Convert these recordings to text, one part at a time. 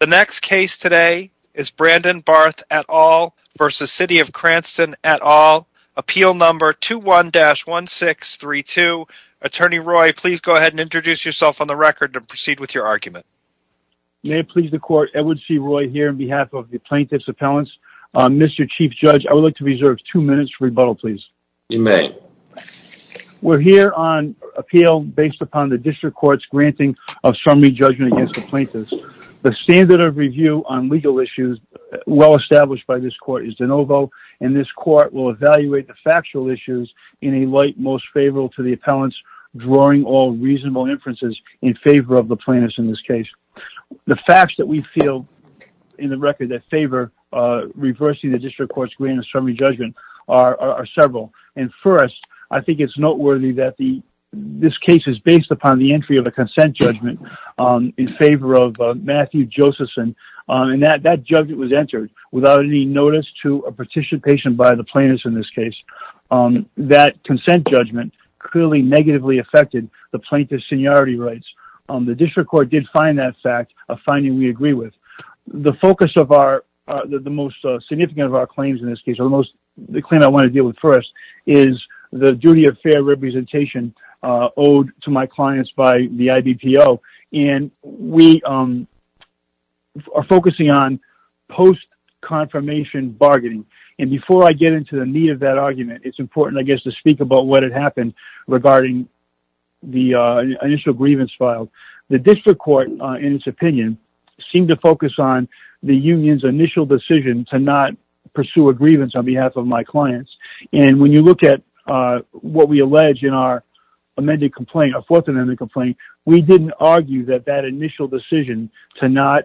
The next case today is Brandon Barth et al. v. City of Cranston et al. Appeal number 21-1632. Attorney Roy, please go ahead and introduce yourself on the record to proceed with your argument. May it please the court, Edward C. Roy here on behalf of the plaintiff's appellants. Mr. Chief Judge, I would like to reserve two minutes for rebuttal, please. You may. We're here on appeal based upon the district court's granting of summary judgment against the plaintiffs. The standard of review on legal issues well established by this court is de novo, and this court will evaluate the factual issues in a light most favorable to the appellants, drawing all reasonable inferences in favor of the plaintiffs in this case. The facts that we feel in the record that favor reversing the district court's grant of summary judgment are several. First, I think it's noteworthy that this case is based upon the entry of a consent judgment in favor of Matthew Josephson. That judgment was entered without any notice to a participation by the plaintiffs in this case. That consent judgment clearly negatively affected the plaintiff's seniority rights. The district court did find that fact, a finding we agree with. The focus of the most significant of our claims in this case, the claim I want to deal with first, is the duty of fair representation owed to my clients by the IBPO. And we are focusing on post-confirmation bargaining. And before I get into the meat of that argument, it's important, I guess, to speak about what had happened regarding the initial grievance filed. The district court, in its opinion, seemed to focus on the union's initial decision to not pursue a grievance on behalf of my clients. And when you look at what we allege in our amended complaint, our fourth amended complaint, we didn't argue that that initial decision to not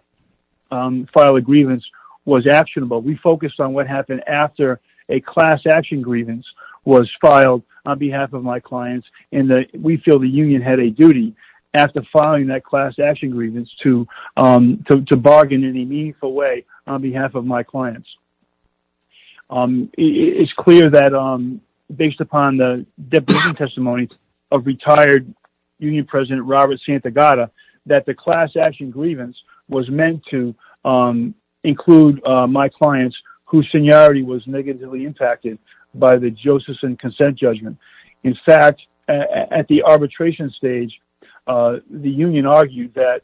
file a grievance was actionable. We focused on what happened after a class action grievance was filed on behalf of my clients. And we feel the union had a duty, after filing that class action grievance, to bargain in a meaningful way on behalf of my clients. It's clear that, based upon the testimony of retired union president Robert Santagata, that the class action grievance was meant to include my clients whose seniority was negatively impacted by the Josephson consent judgment. In fact, at the arbitration stage, the union argued that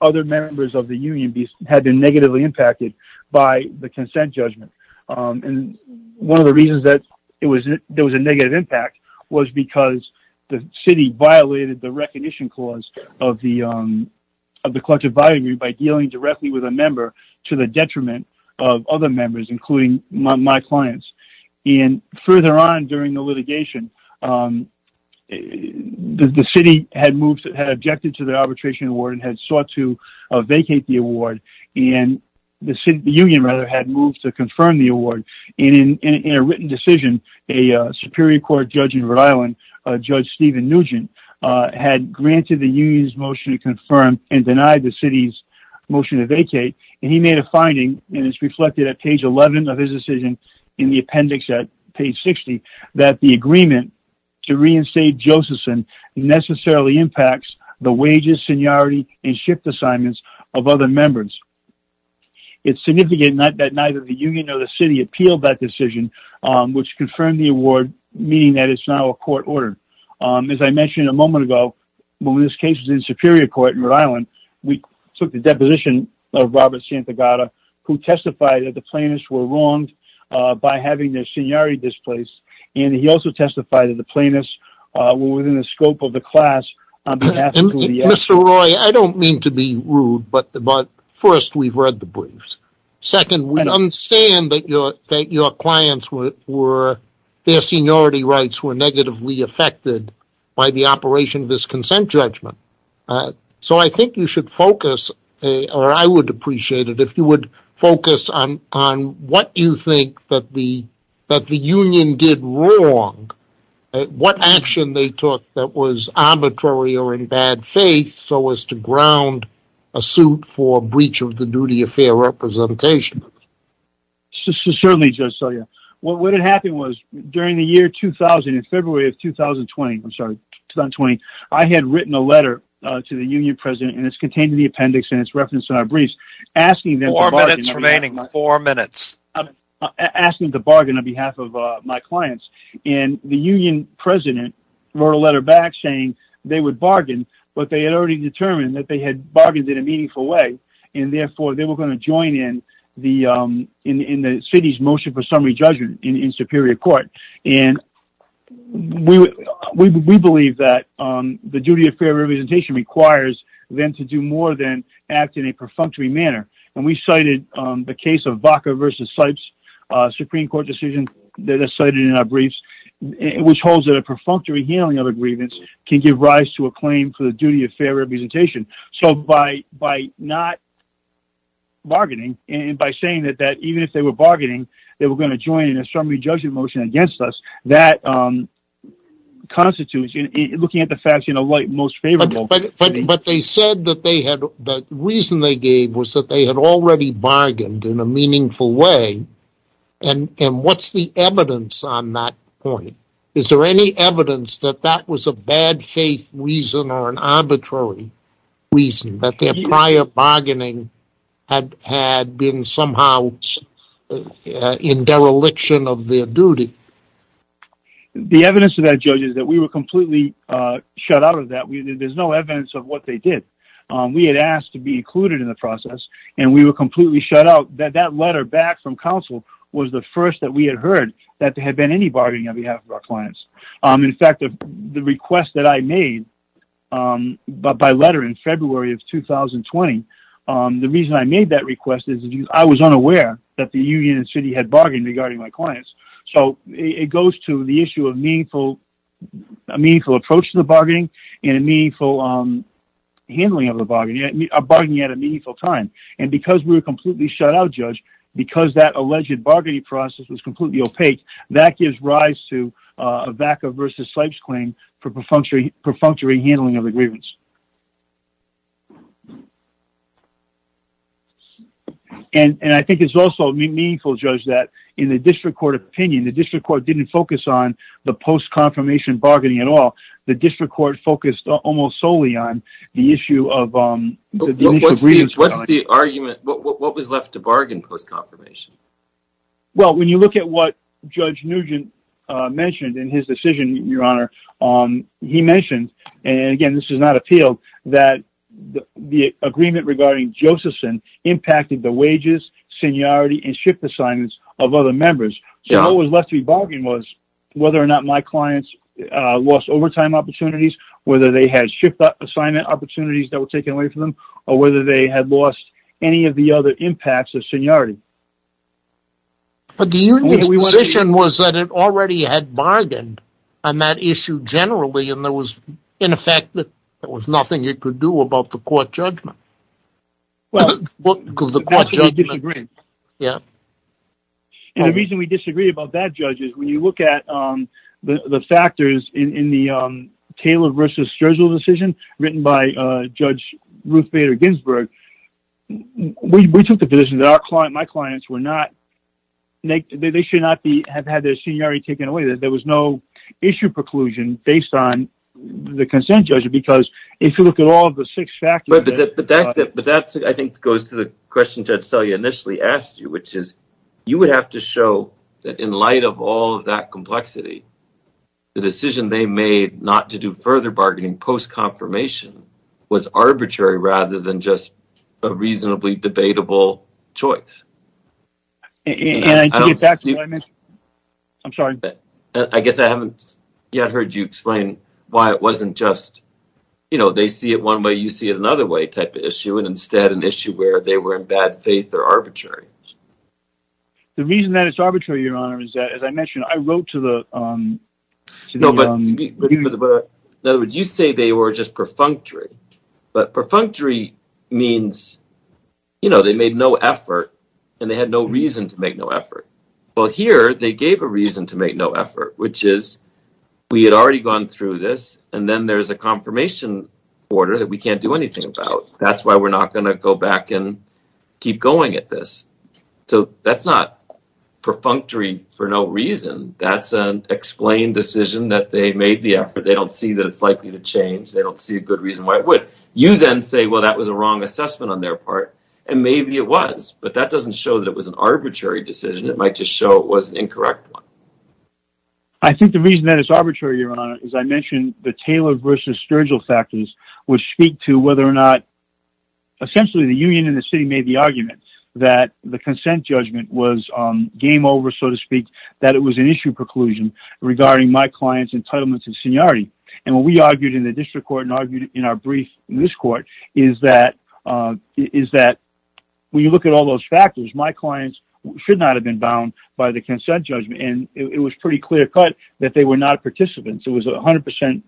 other members of the union had been negatively impacted by the consent judgment. And one of the reasons that there was a negative impact was because the city violated the recognition clause of the collective bargaining agreement by dealing directly with a member to the detriment of other members, including my clients. And further on during the litigation, the city had objected to the arbitration award and had sought to vacate the award. And the union had moved to confirm the award. And in a written decision, a Superior Court judge in Rhode Island, Judge Stephen Nugent, had granted the union's motion to confirm and denied the city's motion to vacate. And he made a finding, and it's reflected at page 11 of his decision in the appendix at page 60, that the agreement to reinstate Josephson necessarily impacts the wages, seniority, and shift assignments of other members. It's significant that neither the union nor the city appealed that decision, which confirmed the award, meaning that it's now a court order. As I mentioned a moment ago, when this case was in Superior Court in Rhode Island, we took the deposition of Robert Santagata, who testified that the plaintiffs were wronged by having their seniority displaced. And he also testified that the plaintiffs were within the scope of the class on behalf of the union. Mr. Roy, I don't mean to be rude, but first, we've read the briefs. Second, we understand that your clients were, their seniority rights were negatively affected by the operation of this consent judgment. So I think you should focus, or I would appreciate it if you would focus on what you think that the union did wrong. What action they took that was arbitrary or in bad faith so as to ground a suit for breach of the duty of fair representation. Certainly, Judge Selya. What had happened was, during the year 2000, in February of 2020, I'm sorry, 2020, I had written a letter to the union president, and it's contained in the appendix and it's referenced in our briefs, Four minutes remaining. Four minutes. asking them to bargain on behalf of my clients. And the union president wrote a letter back saying they would bargain, but they had already determined that they had bargained in a meaningful way, and therefore they were going to join in the city's motion for summary judgment in Superior Court. And we believe that the duty of fair representation requires them to do more than act in a perfunctory manner. And we cited the case of Vaca versus Sipes Supreme Court decision that is cited in our briefs, which holds that a perfunctory handling of a grievance can give rise to a claim for the duty of fair representation. So by not bargaining, and by saying that even if they were bargaining, they were going to join in a summary judgment motion against us, that constitutes looking at the facts in a light most favorable. But they said that the reason they gave was that they had already bargained in a meaningful way, and what's the evidence on that point? Is there any evidence that that was a bad faith reason or an arbitrary reason, that their prior bargaining had been somehow in dereliction of their duty? The evidence of that, Judge, is that we were completely shut out of that. There's no evidence of what they did. We had asked to be included in the process, and we were completely shut out. That letter back from counsel was the first that we had heard that there had been any bargaining on behalf of our clients. In fact, the request that I made by letter in February of 2020, the reason I made that request is I was unaware that the union and city had bargained regarding my clients. So it goes to the issue of a meaningful approach to the bargaining and a meaningful handling of the bargaining, a bargaining at a meaningful time. And because we were completely shut out, Judge, because that alleged bargaining process was completely opaque, that gives rise to a VACA v. Sipes claim for perfunctory handling of the grievance. And I think it's also meaningful, Judge, that in the district court opinion, the district court didn't focus on the post-confirmation bargaining at all. The district court focused almost solely on the issue of the grievance. What's the argument? What was left to bargain post-confirmation? Well, when you look at what Judge Nugent mentioned in his decision, Your Honor, he mentioned, and again, this is not appealed, that the agreement regarding Josephson impacted the wages, seniority, and shift assignments of other members. So what was left to be bargained was whether or not my clients lost overtime opportunities, whether they had shift assignment opportunities that were taken away from them, or whether they had lost any of the other impacts of seniority. But the union's position was that it already had bargained on that issue generally, and there was, in effect, there was nothing it could do about the court judgment. And the reason we disagree about that, Judge, is when you look at the factors in the Taylor v. Strozl decision written by Judge Ruth Bader Ginsburg, we took the position that my clients should not have had their seniority taken away, that there was no issue preclusion based on the consent judgment, because if you look at all of the six factors... But that, I think, goes to the question Judge Selye initially asked you, which is you would have to show that in light of all of that complexity, the decision they made not to do further bargaining post-confirmation was arbitrary rather than just a reasonably debatable choice. I guess I haven't yet heard you explain why it wasn't just, you know, they see it one way, you see it another way type of issue, and instead an issue where they were in bad faith or arbitrary. The reason that it's arbitrary, Your Honor, is that, as I mentioned, I wrote to the... No, but, in other words, you say they were just perfunctory. But perfunctory means, you know, they made no effort, and they had no reason to make no effort. Well, here they gave a reason to make no effort, which is we had already gone through this, and then there's a confirmation order that we can't do anything about. That's why we're not going to go back and keep going at this. So that's not perfunctory for no reason. That's an explained decision that they made the effort. They don't see that it's likely to change. They don't see a good reason why it would. You then say, well, that was a wrong assessment on their part, and maybe it was, but that doesn't show that it was an arbitrary decision. It might just show it was an incorrect one. I think the reason that it's arbitrary, Your Honor, is I mentioned the Taylor versus Sturgill factors, which speak to whether or not, essentially the union and the city made the argument that the consent judgment was game over, so to speak, that it was an issue preclusion regarding my client's entitlements and seniority. And what we argued in the district court and argued in our brief in this court is that when you look at all those factors, my clients should not have been bound by the consent judgment, and it was pretty clear-cut that they were not participants. It was 100%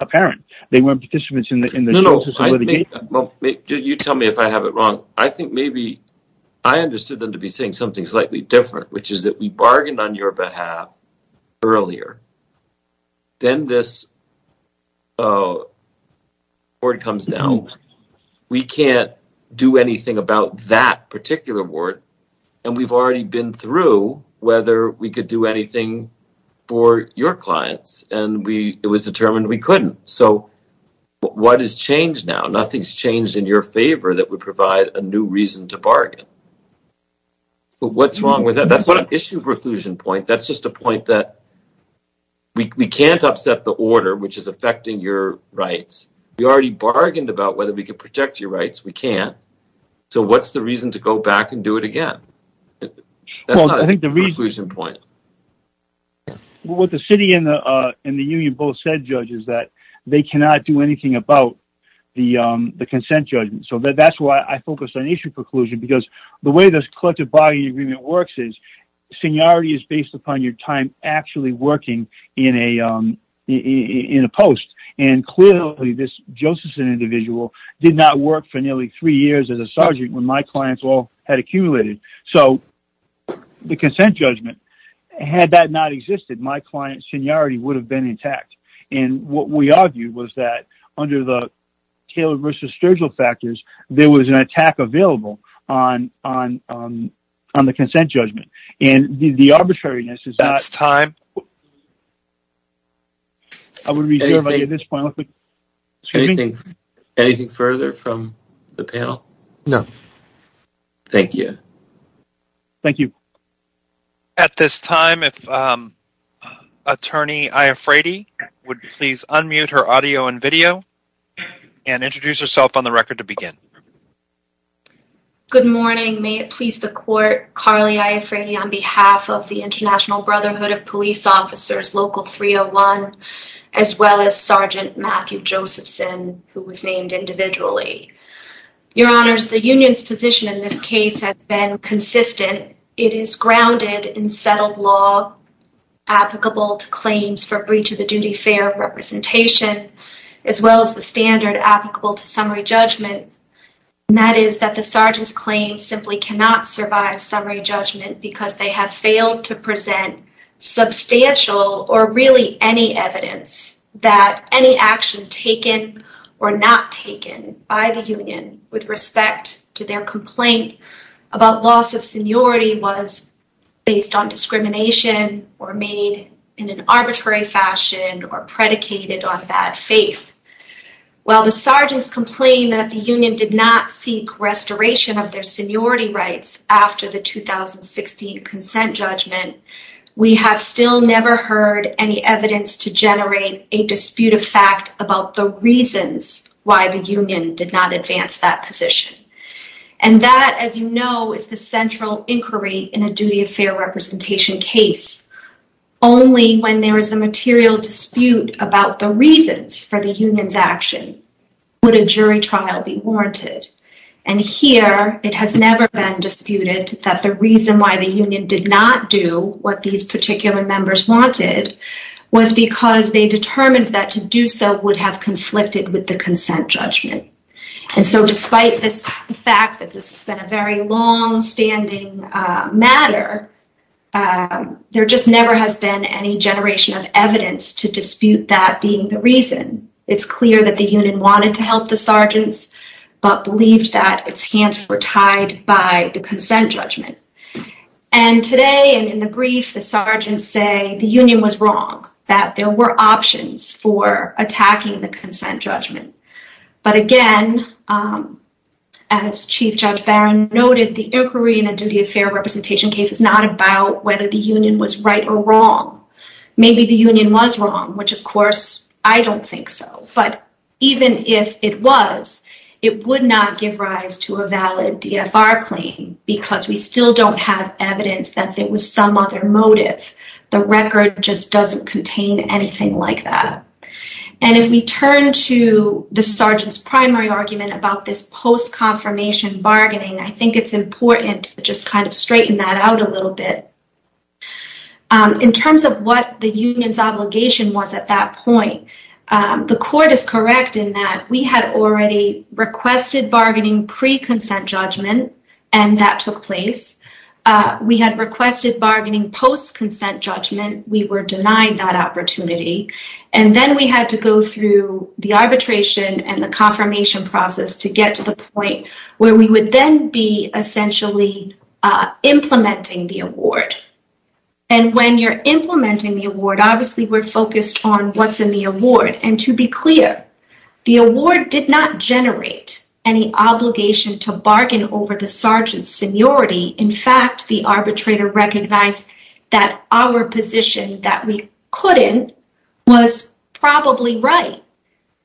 apparent they weren't participants in the process of litigation. Well, you tell me if I have it wrong. I think maybe I understood them to be saying something slightly different, which is that we bargained on your behalf earlier. Then this word comes down. We can't do anything about that particular word, and we've already been through whether we could do anything for your clients, and it was determined we couldn't. So what has changed now? Nothing's changed in your favor that would provide a new reason to bargain. But what's wrong with that? That's not an issue preclusion point. That's just a point that we can't upset the order, which is affecting your rights. We already bargained about whether we could protect your rights. We can't. So what's the reason to go back and do it again? That's not a preclusion point. What the city and the union both said, Judge, is that they cannot do anything about the consent judgment. So that's why I focused on issue preclusion, because the way this collective bargaining agreement works is seniority is based upon your time actually working in a post. And clearly this Josephson individual did not work for nearly three years as a sergeant when my clients all had accumulated. So the consent judgment, had that not existed, my client's seniority would have been intact. And what we argued was that under the Taylor versus Sturgill factors, there was an attack available on the consent judgment. And the arbitrariness is that. That's time. I would reserve at this point. Anything further from the panel? No. Thank you. Thank you. At this time, if attorney, I afraid he would please unmute her audio and video and introduce herself on the record to begin. Good morning. May it please the court. Carly, I afraid he on behalf of the international brotherhood of police officers, local 301, as well as Sergeant Matthew Josephson, who was named individually, your honors, the union's position in this case has been consistent. It is grounded in settled law applicable to claims for breach of the duty fair representation, as well as the standard applicable to summary judgment. And that is that the sergeant's claim simply cannot survive summary judgment because they have failed to present substantial or really any evidence that any action taken or not taken by the union with respect to their complaint about loss of seniority was based on discrimination or made in an arbitrary fashion or predicated on bad faith. While the sergeants complained that the union did not seek restoration of their seniority rights after the 2016 consent judgment, we have still never heard any evidence to generate a dispute of fact about the reasons why the union did not advance that position. And that, as you know, is the central inquiry in a duty of fair representation case. Only when there is a material dispute about the reasons for the union's action would a jury trial be warranted. And here it has never been disputed that the reason why the union did not do what these particular members wanted was because they determined that to do so would have conflicted with the consent judgment. And so despite this fact that this has been a very long standing matter, there just never has been any generation of evidence to dispute that being the reason. It's clear that the union wanted to help the sergeants, but believed that its hands were tied by the consent judgment. And today, and in the brief, the sergeants say the union was wrong, that there were options for attacking the consent judgment. But again, as Chief Judge Barron noted, the inquiry in a duty of fair representation case is not about whether the union was right or wrong. Maybe the union was wrong, which of course I don't think so. But even if it was, it would not give rise to a valid DFR claim because we still don't have evidence that there was some other motive. The record just doesn't contain anything like that. And if we turn to the sergeant's primary argument about this post-confirmation bargaining, I think it's important to just kind of straighten that out a little bit. In terms of what the union's obligation was at that point, the court is correct in that we had already requested bargaining pre-consent judgment, and that took place. We had requested bargaining post-consent judgment. We were denied that opportunity. And then we had to go through the arbitration and the confirmation process to get to the point where we would then be essentially implementing the award. And when you're implementing the award, obviously we're focused on what's in the award. And to be clear, the award did not generate any obligation to bargain over the sergeant's seniority. In fact, the arbitrator recognized that our position that we couldn't was probably right.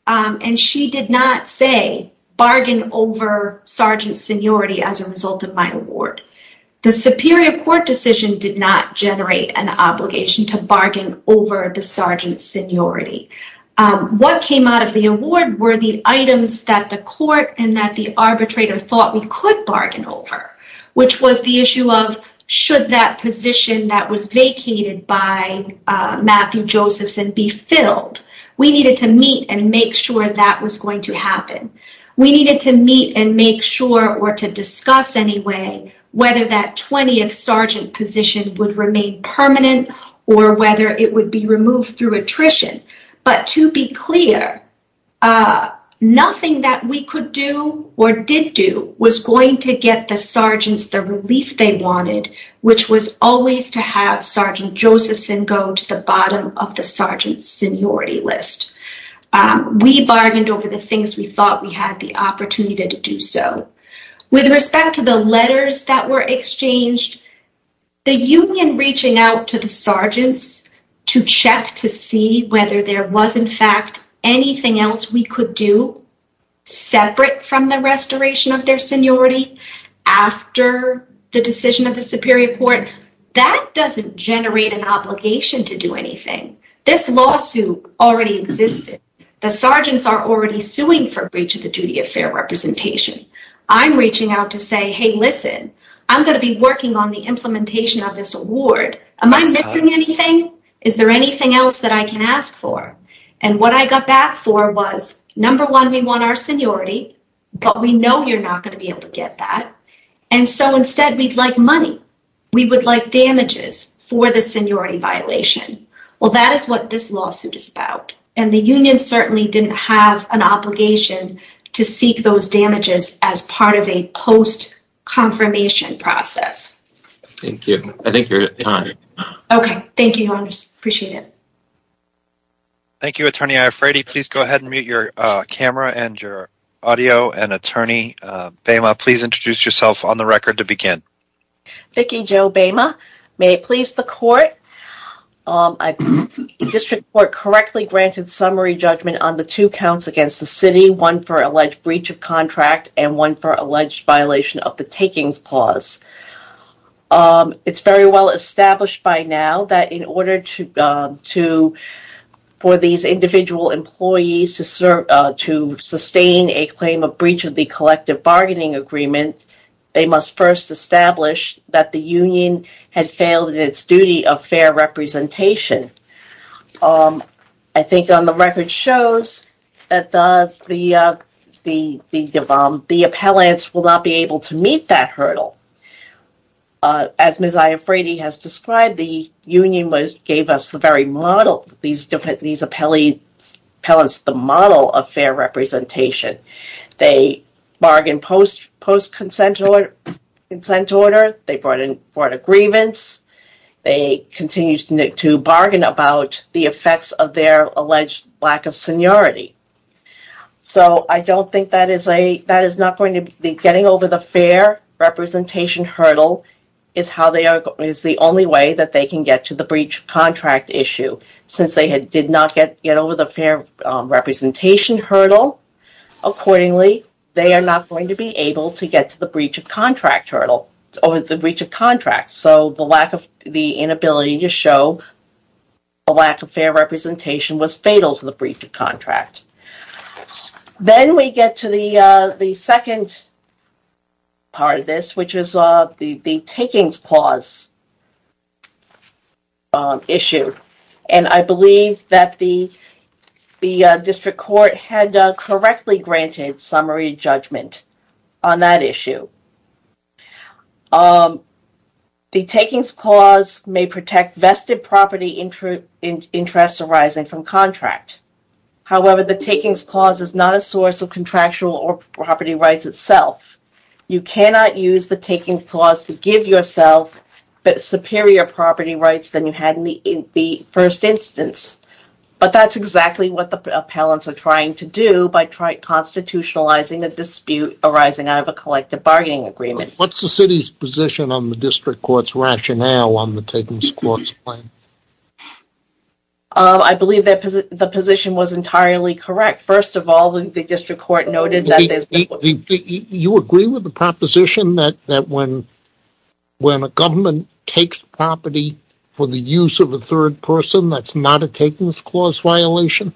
And she did not say bargain over sergeant's seniority as a result of my award. The superior court decision did not generate an obligation to bargain over the sergeant's seniority. What came out of the award were the items that the court and that the arbitrator thought we could bargain over, which was the issue of should that position that was vacated by Matthew Josephson be filled? We needed to meet and make sure that was going to happen. We needed to meet and make sure, or to discuss anyway, whether that 20th sergeant position would remain permanent or whether it would be removed through attrition. But to be clear, nothing that we could do or did do was going to get the sergeants the relief they wanted, which was always to have Sergeant Josephson go to the bottom of the sergeant's seniority list. We bargained over the things we thought we had the opportunity to do so. With respect to the letters that were exchanged, the union reaching out to the sergeants to check to see whether there was in anything that we could do separate from the restoration of their seniority after the decision of the Superior Court. That doesn't generate an obligation to do anything. This lawsuit already existed. The sergeants are already suing for breach of the duty of fair representation. I'm reaching out to say, Hey, listen, I'm going to be working on the implementation of this award. Am I missing anything? Is there anything else that I can ask for? And what I got back for was, number one, we want our seniority, but we know you're not going to be able to get that. And so instead, we'd like money. We would like damages for the seniority violation. Well, that is what this lawsuit is about. And the union certainly didn't have an obligation to seek those damages as part of a post confirmation process. Thank you. I think you're on. Okay. I appreciate it. Thank you, attorney. Please go ahead and mute your camera and your audio. And attorney, Bama, please introduce yourself on the record to begin. Vicki Joe Bama. May it please the court. District court correctly granted summary judgment on the two counts against the city, one for alleged breach of contract and one for alleged violation of the takings clause. It's very well established by now that in order to, to, for these individual employees to serve, to sustain a claim of breach of the collective bargaining agreement, they must first establish that the union had failed in its duty of fair representation. I think on the record shows that the, the, the, the, the appellants will not be able to meet that hurdle. As Ms. These different, these appellants, the model of fair representation, they bargain post, post consent, consent order. They brought in, brought a grievance. They continue to bargain about the effects of their alleged lack of seniority. So I don't think that is a, that is not going to be getting over the fair representation hurdle is how they are, is the only way that they can get to the breach contract issue since they had, did not get, get over the fair representation hurdle. Accordingly, they are not going to be able to get to the breach of contract hurdle or the breach of contract. So the lack of the inability to show a lack of fair representation was fatal to the breach of contract. Then we get to the, the second part of this, which is the takings clause issue. And I believe that the, the district court had correctly granted summary judgment on that issue. The takings clause may protect vested property interest arising from contract. However, the takings clause is not a source of contractual or property rights itself. You cannot use the takings clause to give yourself superior property rights than you had in the first instance. But that's exactly what the appellants are trying to do by constitutionalizing a dispute arising out of a collective bargaining agreement. What's the city's position on the district court's rationale on the takings clause? I believe that the position was entirely correct. First of all, I believe the district court noted that there's... You agree with the proposition that, that when, when a government takes property for the use of a third person, that's not a takings clause violation?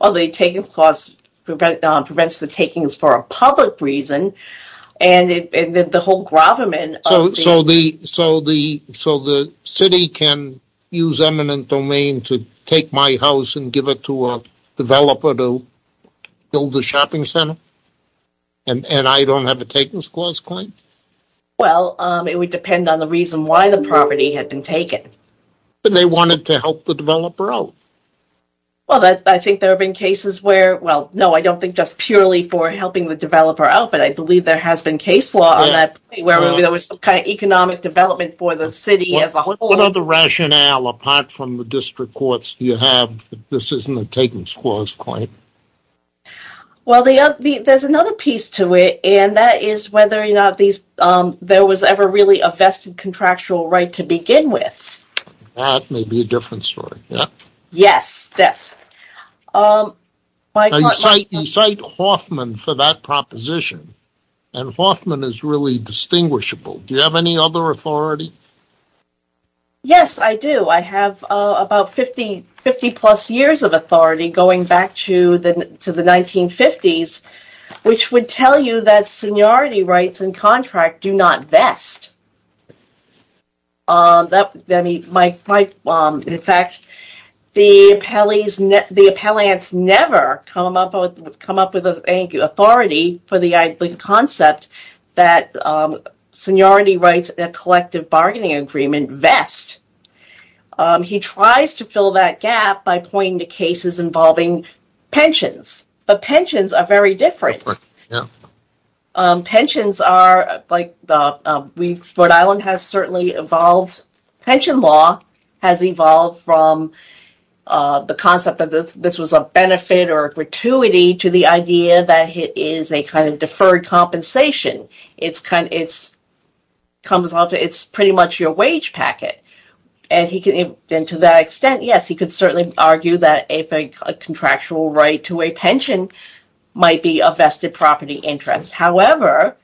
Well, the takings clause prevents the takings for a public reason. And the whole gravamen... So, so the, so the city can use eminent domain to take my house and give it to a developer to build a shopping center? And I don't have a takings clause claim? Well, it would depend on the reason why the property had been taken. But they wanted to help the developer out. Well, I think there have been cases where, well, no, I don't think just purely for helping the developer out, but I believe there has been case law on that, where there was some kind of economic development for the city as a whole. What other rationale, apart from the district courts, do you have that this isn't a takings clause claim? Well, there's another piece to it, and that is whether or not there was ever really a vested contractual right to begin with. That may be a different story. Yes. Yes. You cite Hoffman for that proposition, and Hoffman is really distinguishable. Do you have any other authority? Yes, I do. I have about 50-plus years of authority going back to the 1950s, which would tell you that seniority rights and contract do not vest. In fact, the appellants never come up with authority for the idling concept that seniority rights and collective bargaining agreement vest. He tries to fill that gap by pointing to cases involving pensions, but pensions are very different. Pensions are like Rhode Island has certainly evolved. Pension law has evolved from the concept that this was a benefit or gratuity to the idea that it is a kind of deferred compensation. It's pretty much your wage packet, and to that extent, yes, he could certainly argue that a contractual right to a pension might be a vested property interest. However,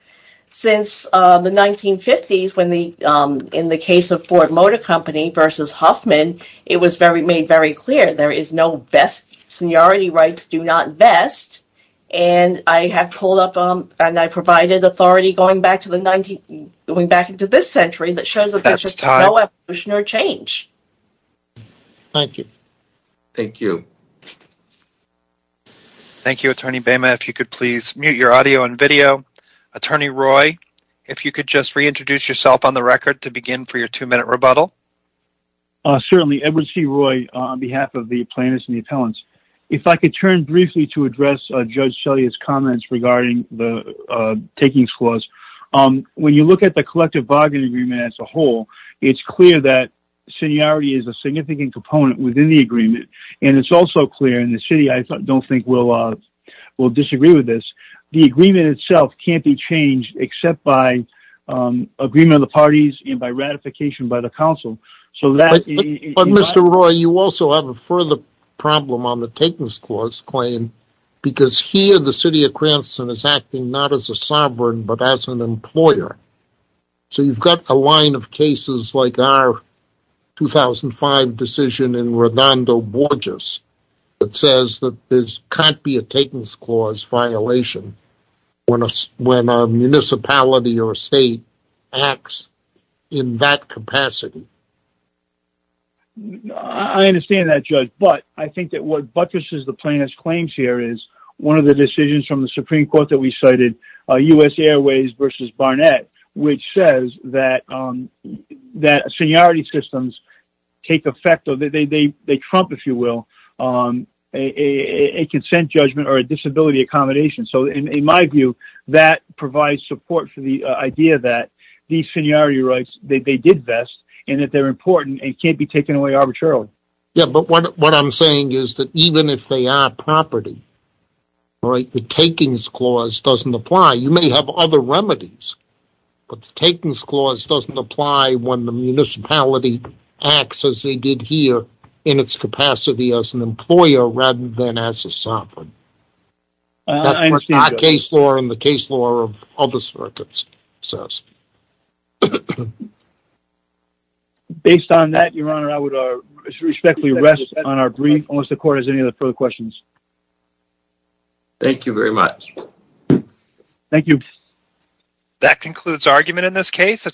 since the 1950s, in the case of Ford Motor Company versus Hoffman, it was made very clear there is no vest. Seniority rights do not vest, and I have provided authority going back into this century that shows that there is no evolution or change. Thank you. Thank you. Thank you, Attorney Behman. If you could please mute your audio and video. Attorney Roy, if you could just reintroduce yourself on the record to begin for your two-minute rebuttal. Certainly, Edward C. Roy on behalf of the plaintiffs and the appellants. If I could turn briefly to address Judge Selye's comments regarding the takings clause. When you look at the collective bargain agreement as a whole, it's clear that seniority is a significant component within the agreement, and it's also clear in the city I don't think will disagree with this. The agreement itself can't be changed except by agreement of the parties and by ratification by the council. But, Mr. Roy, you also have a further problem on the takings clause claim, because here the city of Cranston is acting not as a sovereign but as an employer. So you've got a line of cases like our 2005 decision in Redondo Borges that says that there can't be a takings clause violation when a municipality or state acts in that capacity. I understand that, Judge. But I think that what buttresses the plaintiff's claims here is one of the decisions from the Supreme Court that we cited, U.S. Airways v. Barnett, which says that seniority systems take effect, they trump, if you will, a consent judgment or a disability accommodation. So in my view, that provides support for the idea that these seniority rights, they did vest, and that they're important and can't be taken away arbitrarily. Yeah, but what I'm saying is that even if they are property, the takings clause doesn't apply. You may have other remedies, but the takings clause doesn't apply when the municipality acts as they did here in its capacity as an employer rather than as a sovereign. That's what our case law and the case law of other circuits says. Based on that, Your Honor, I would respectfully rest on our brief. Unless the court has any other further questions. Thank you very much. Thank you. That concludes argument in this case.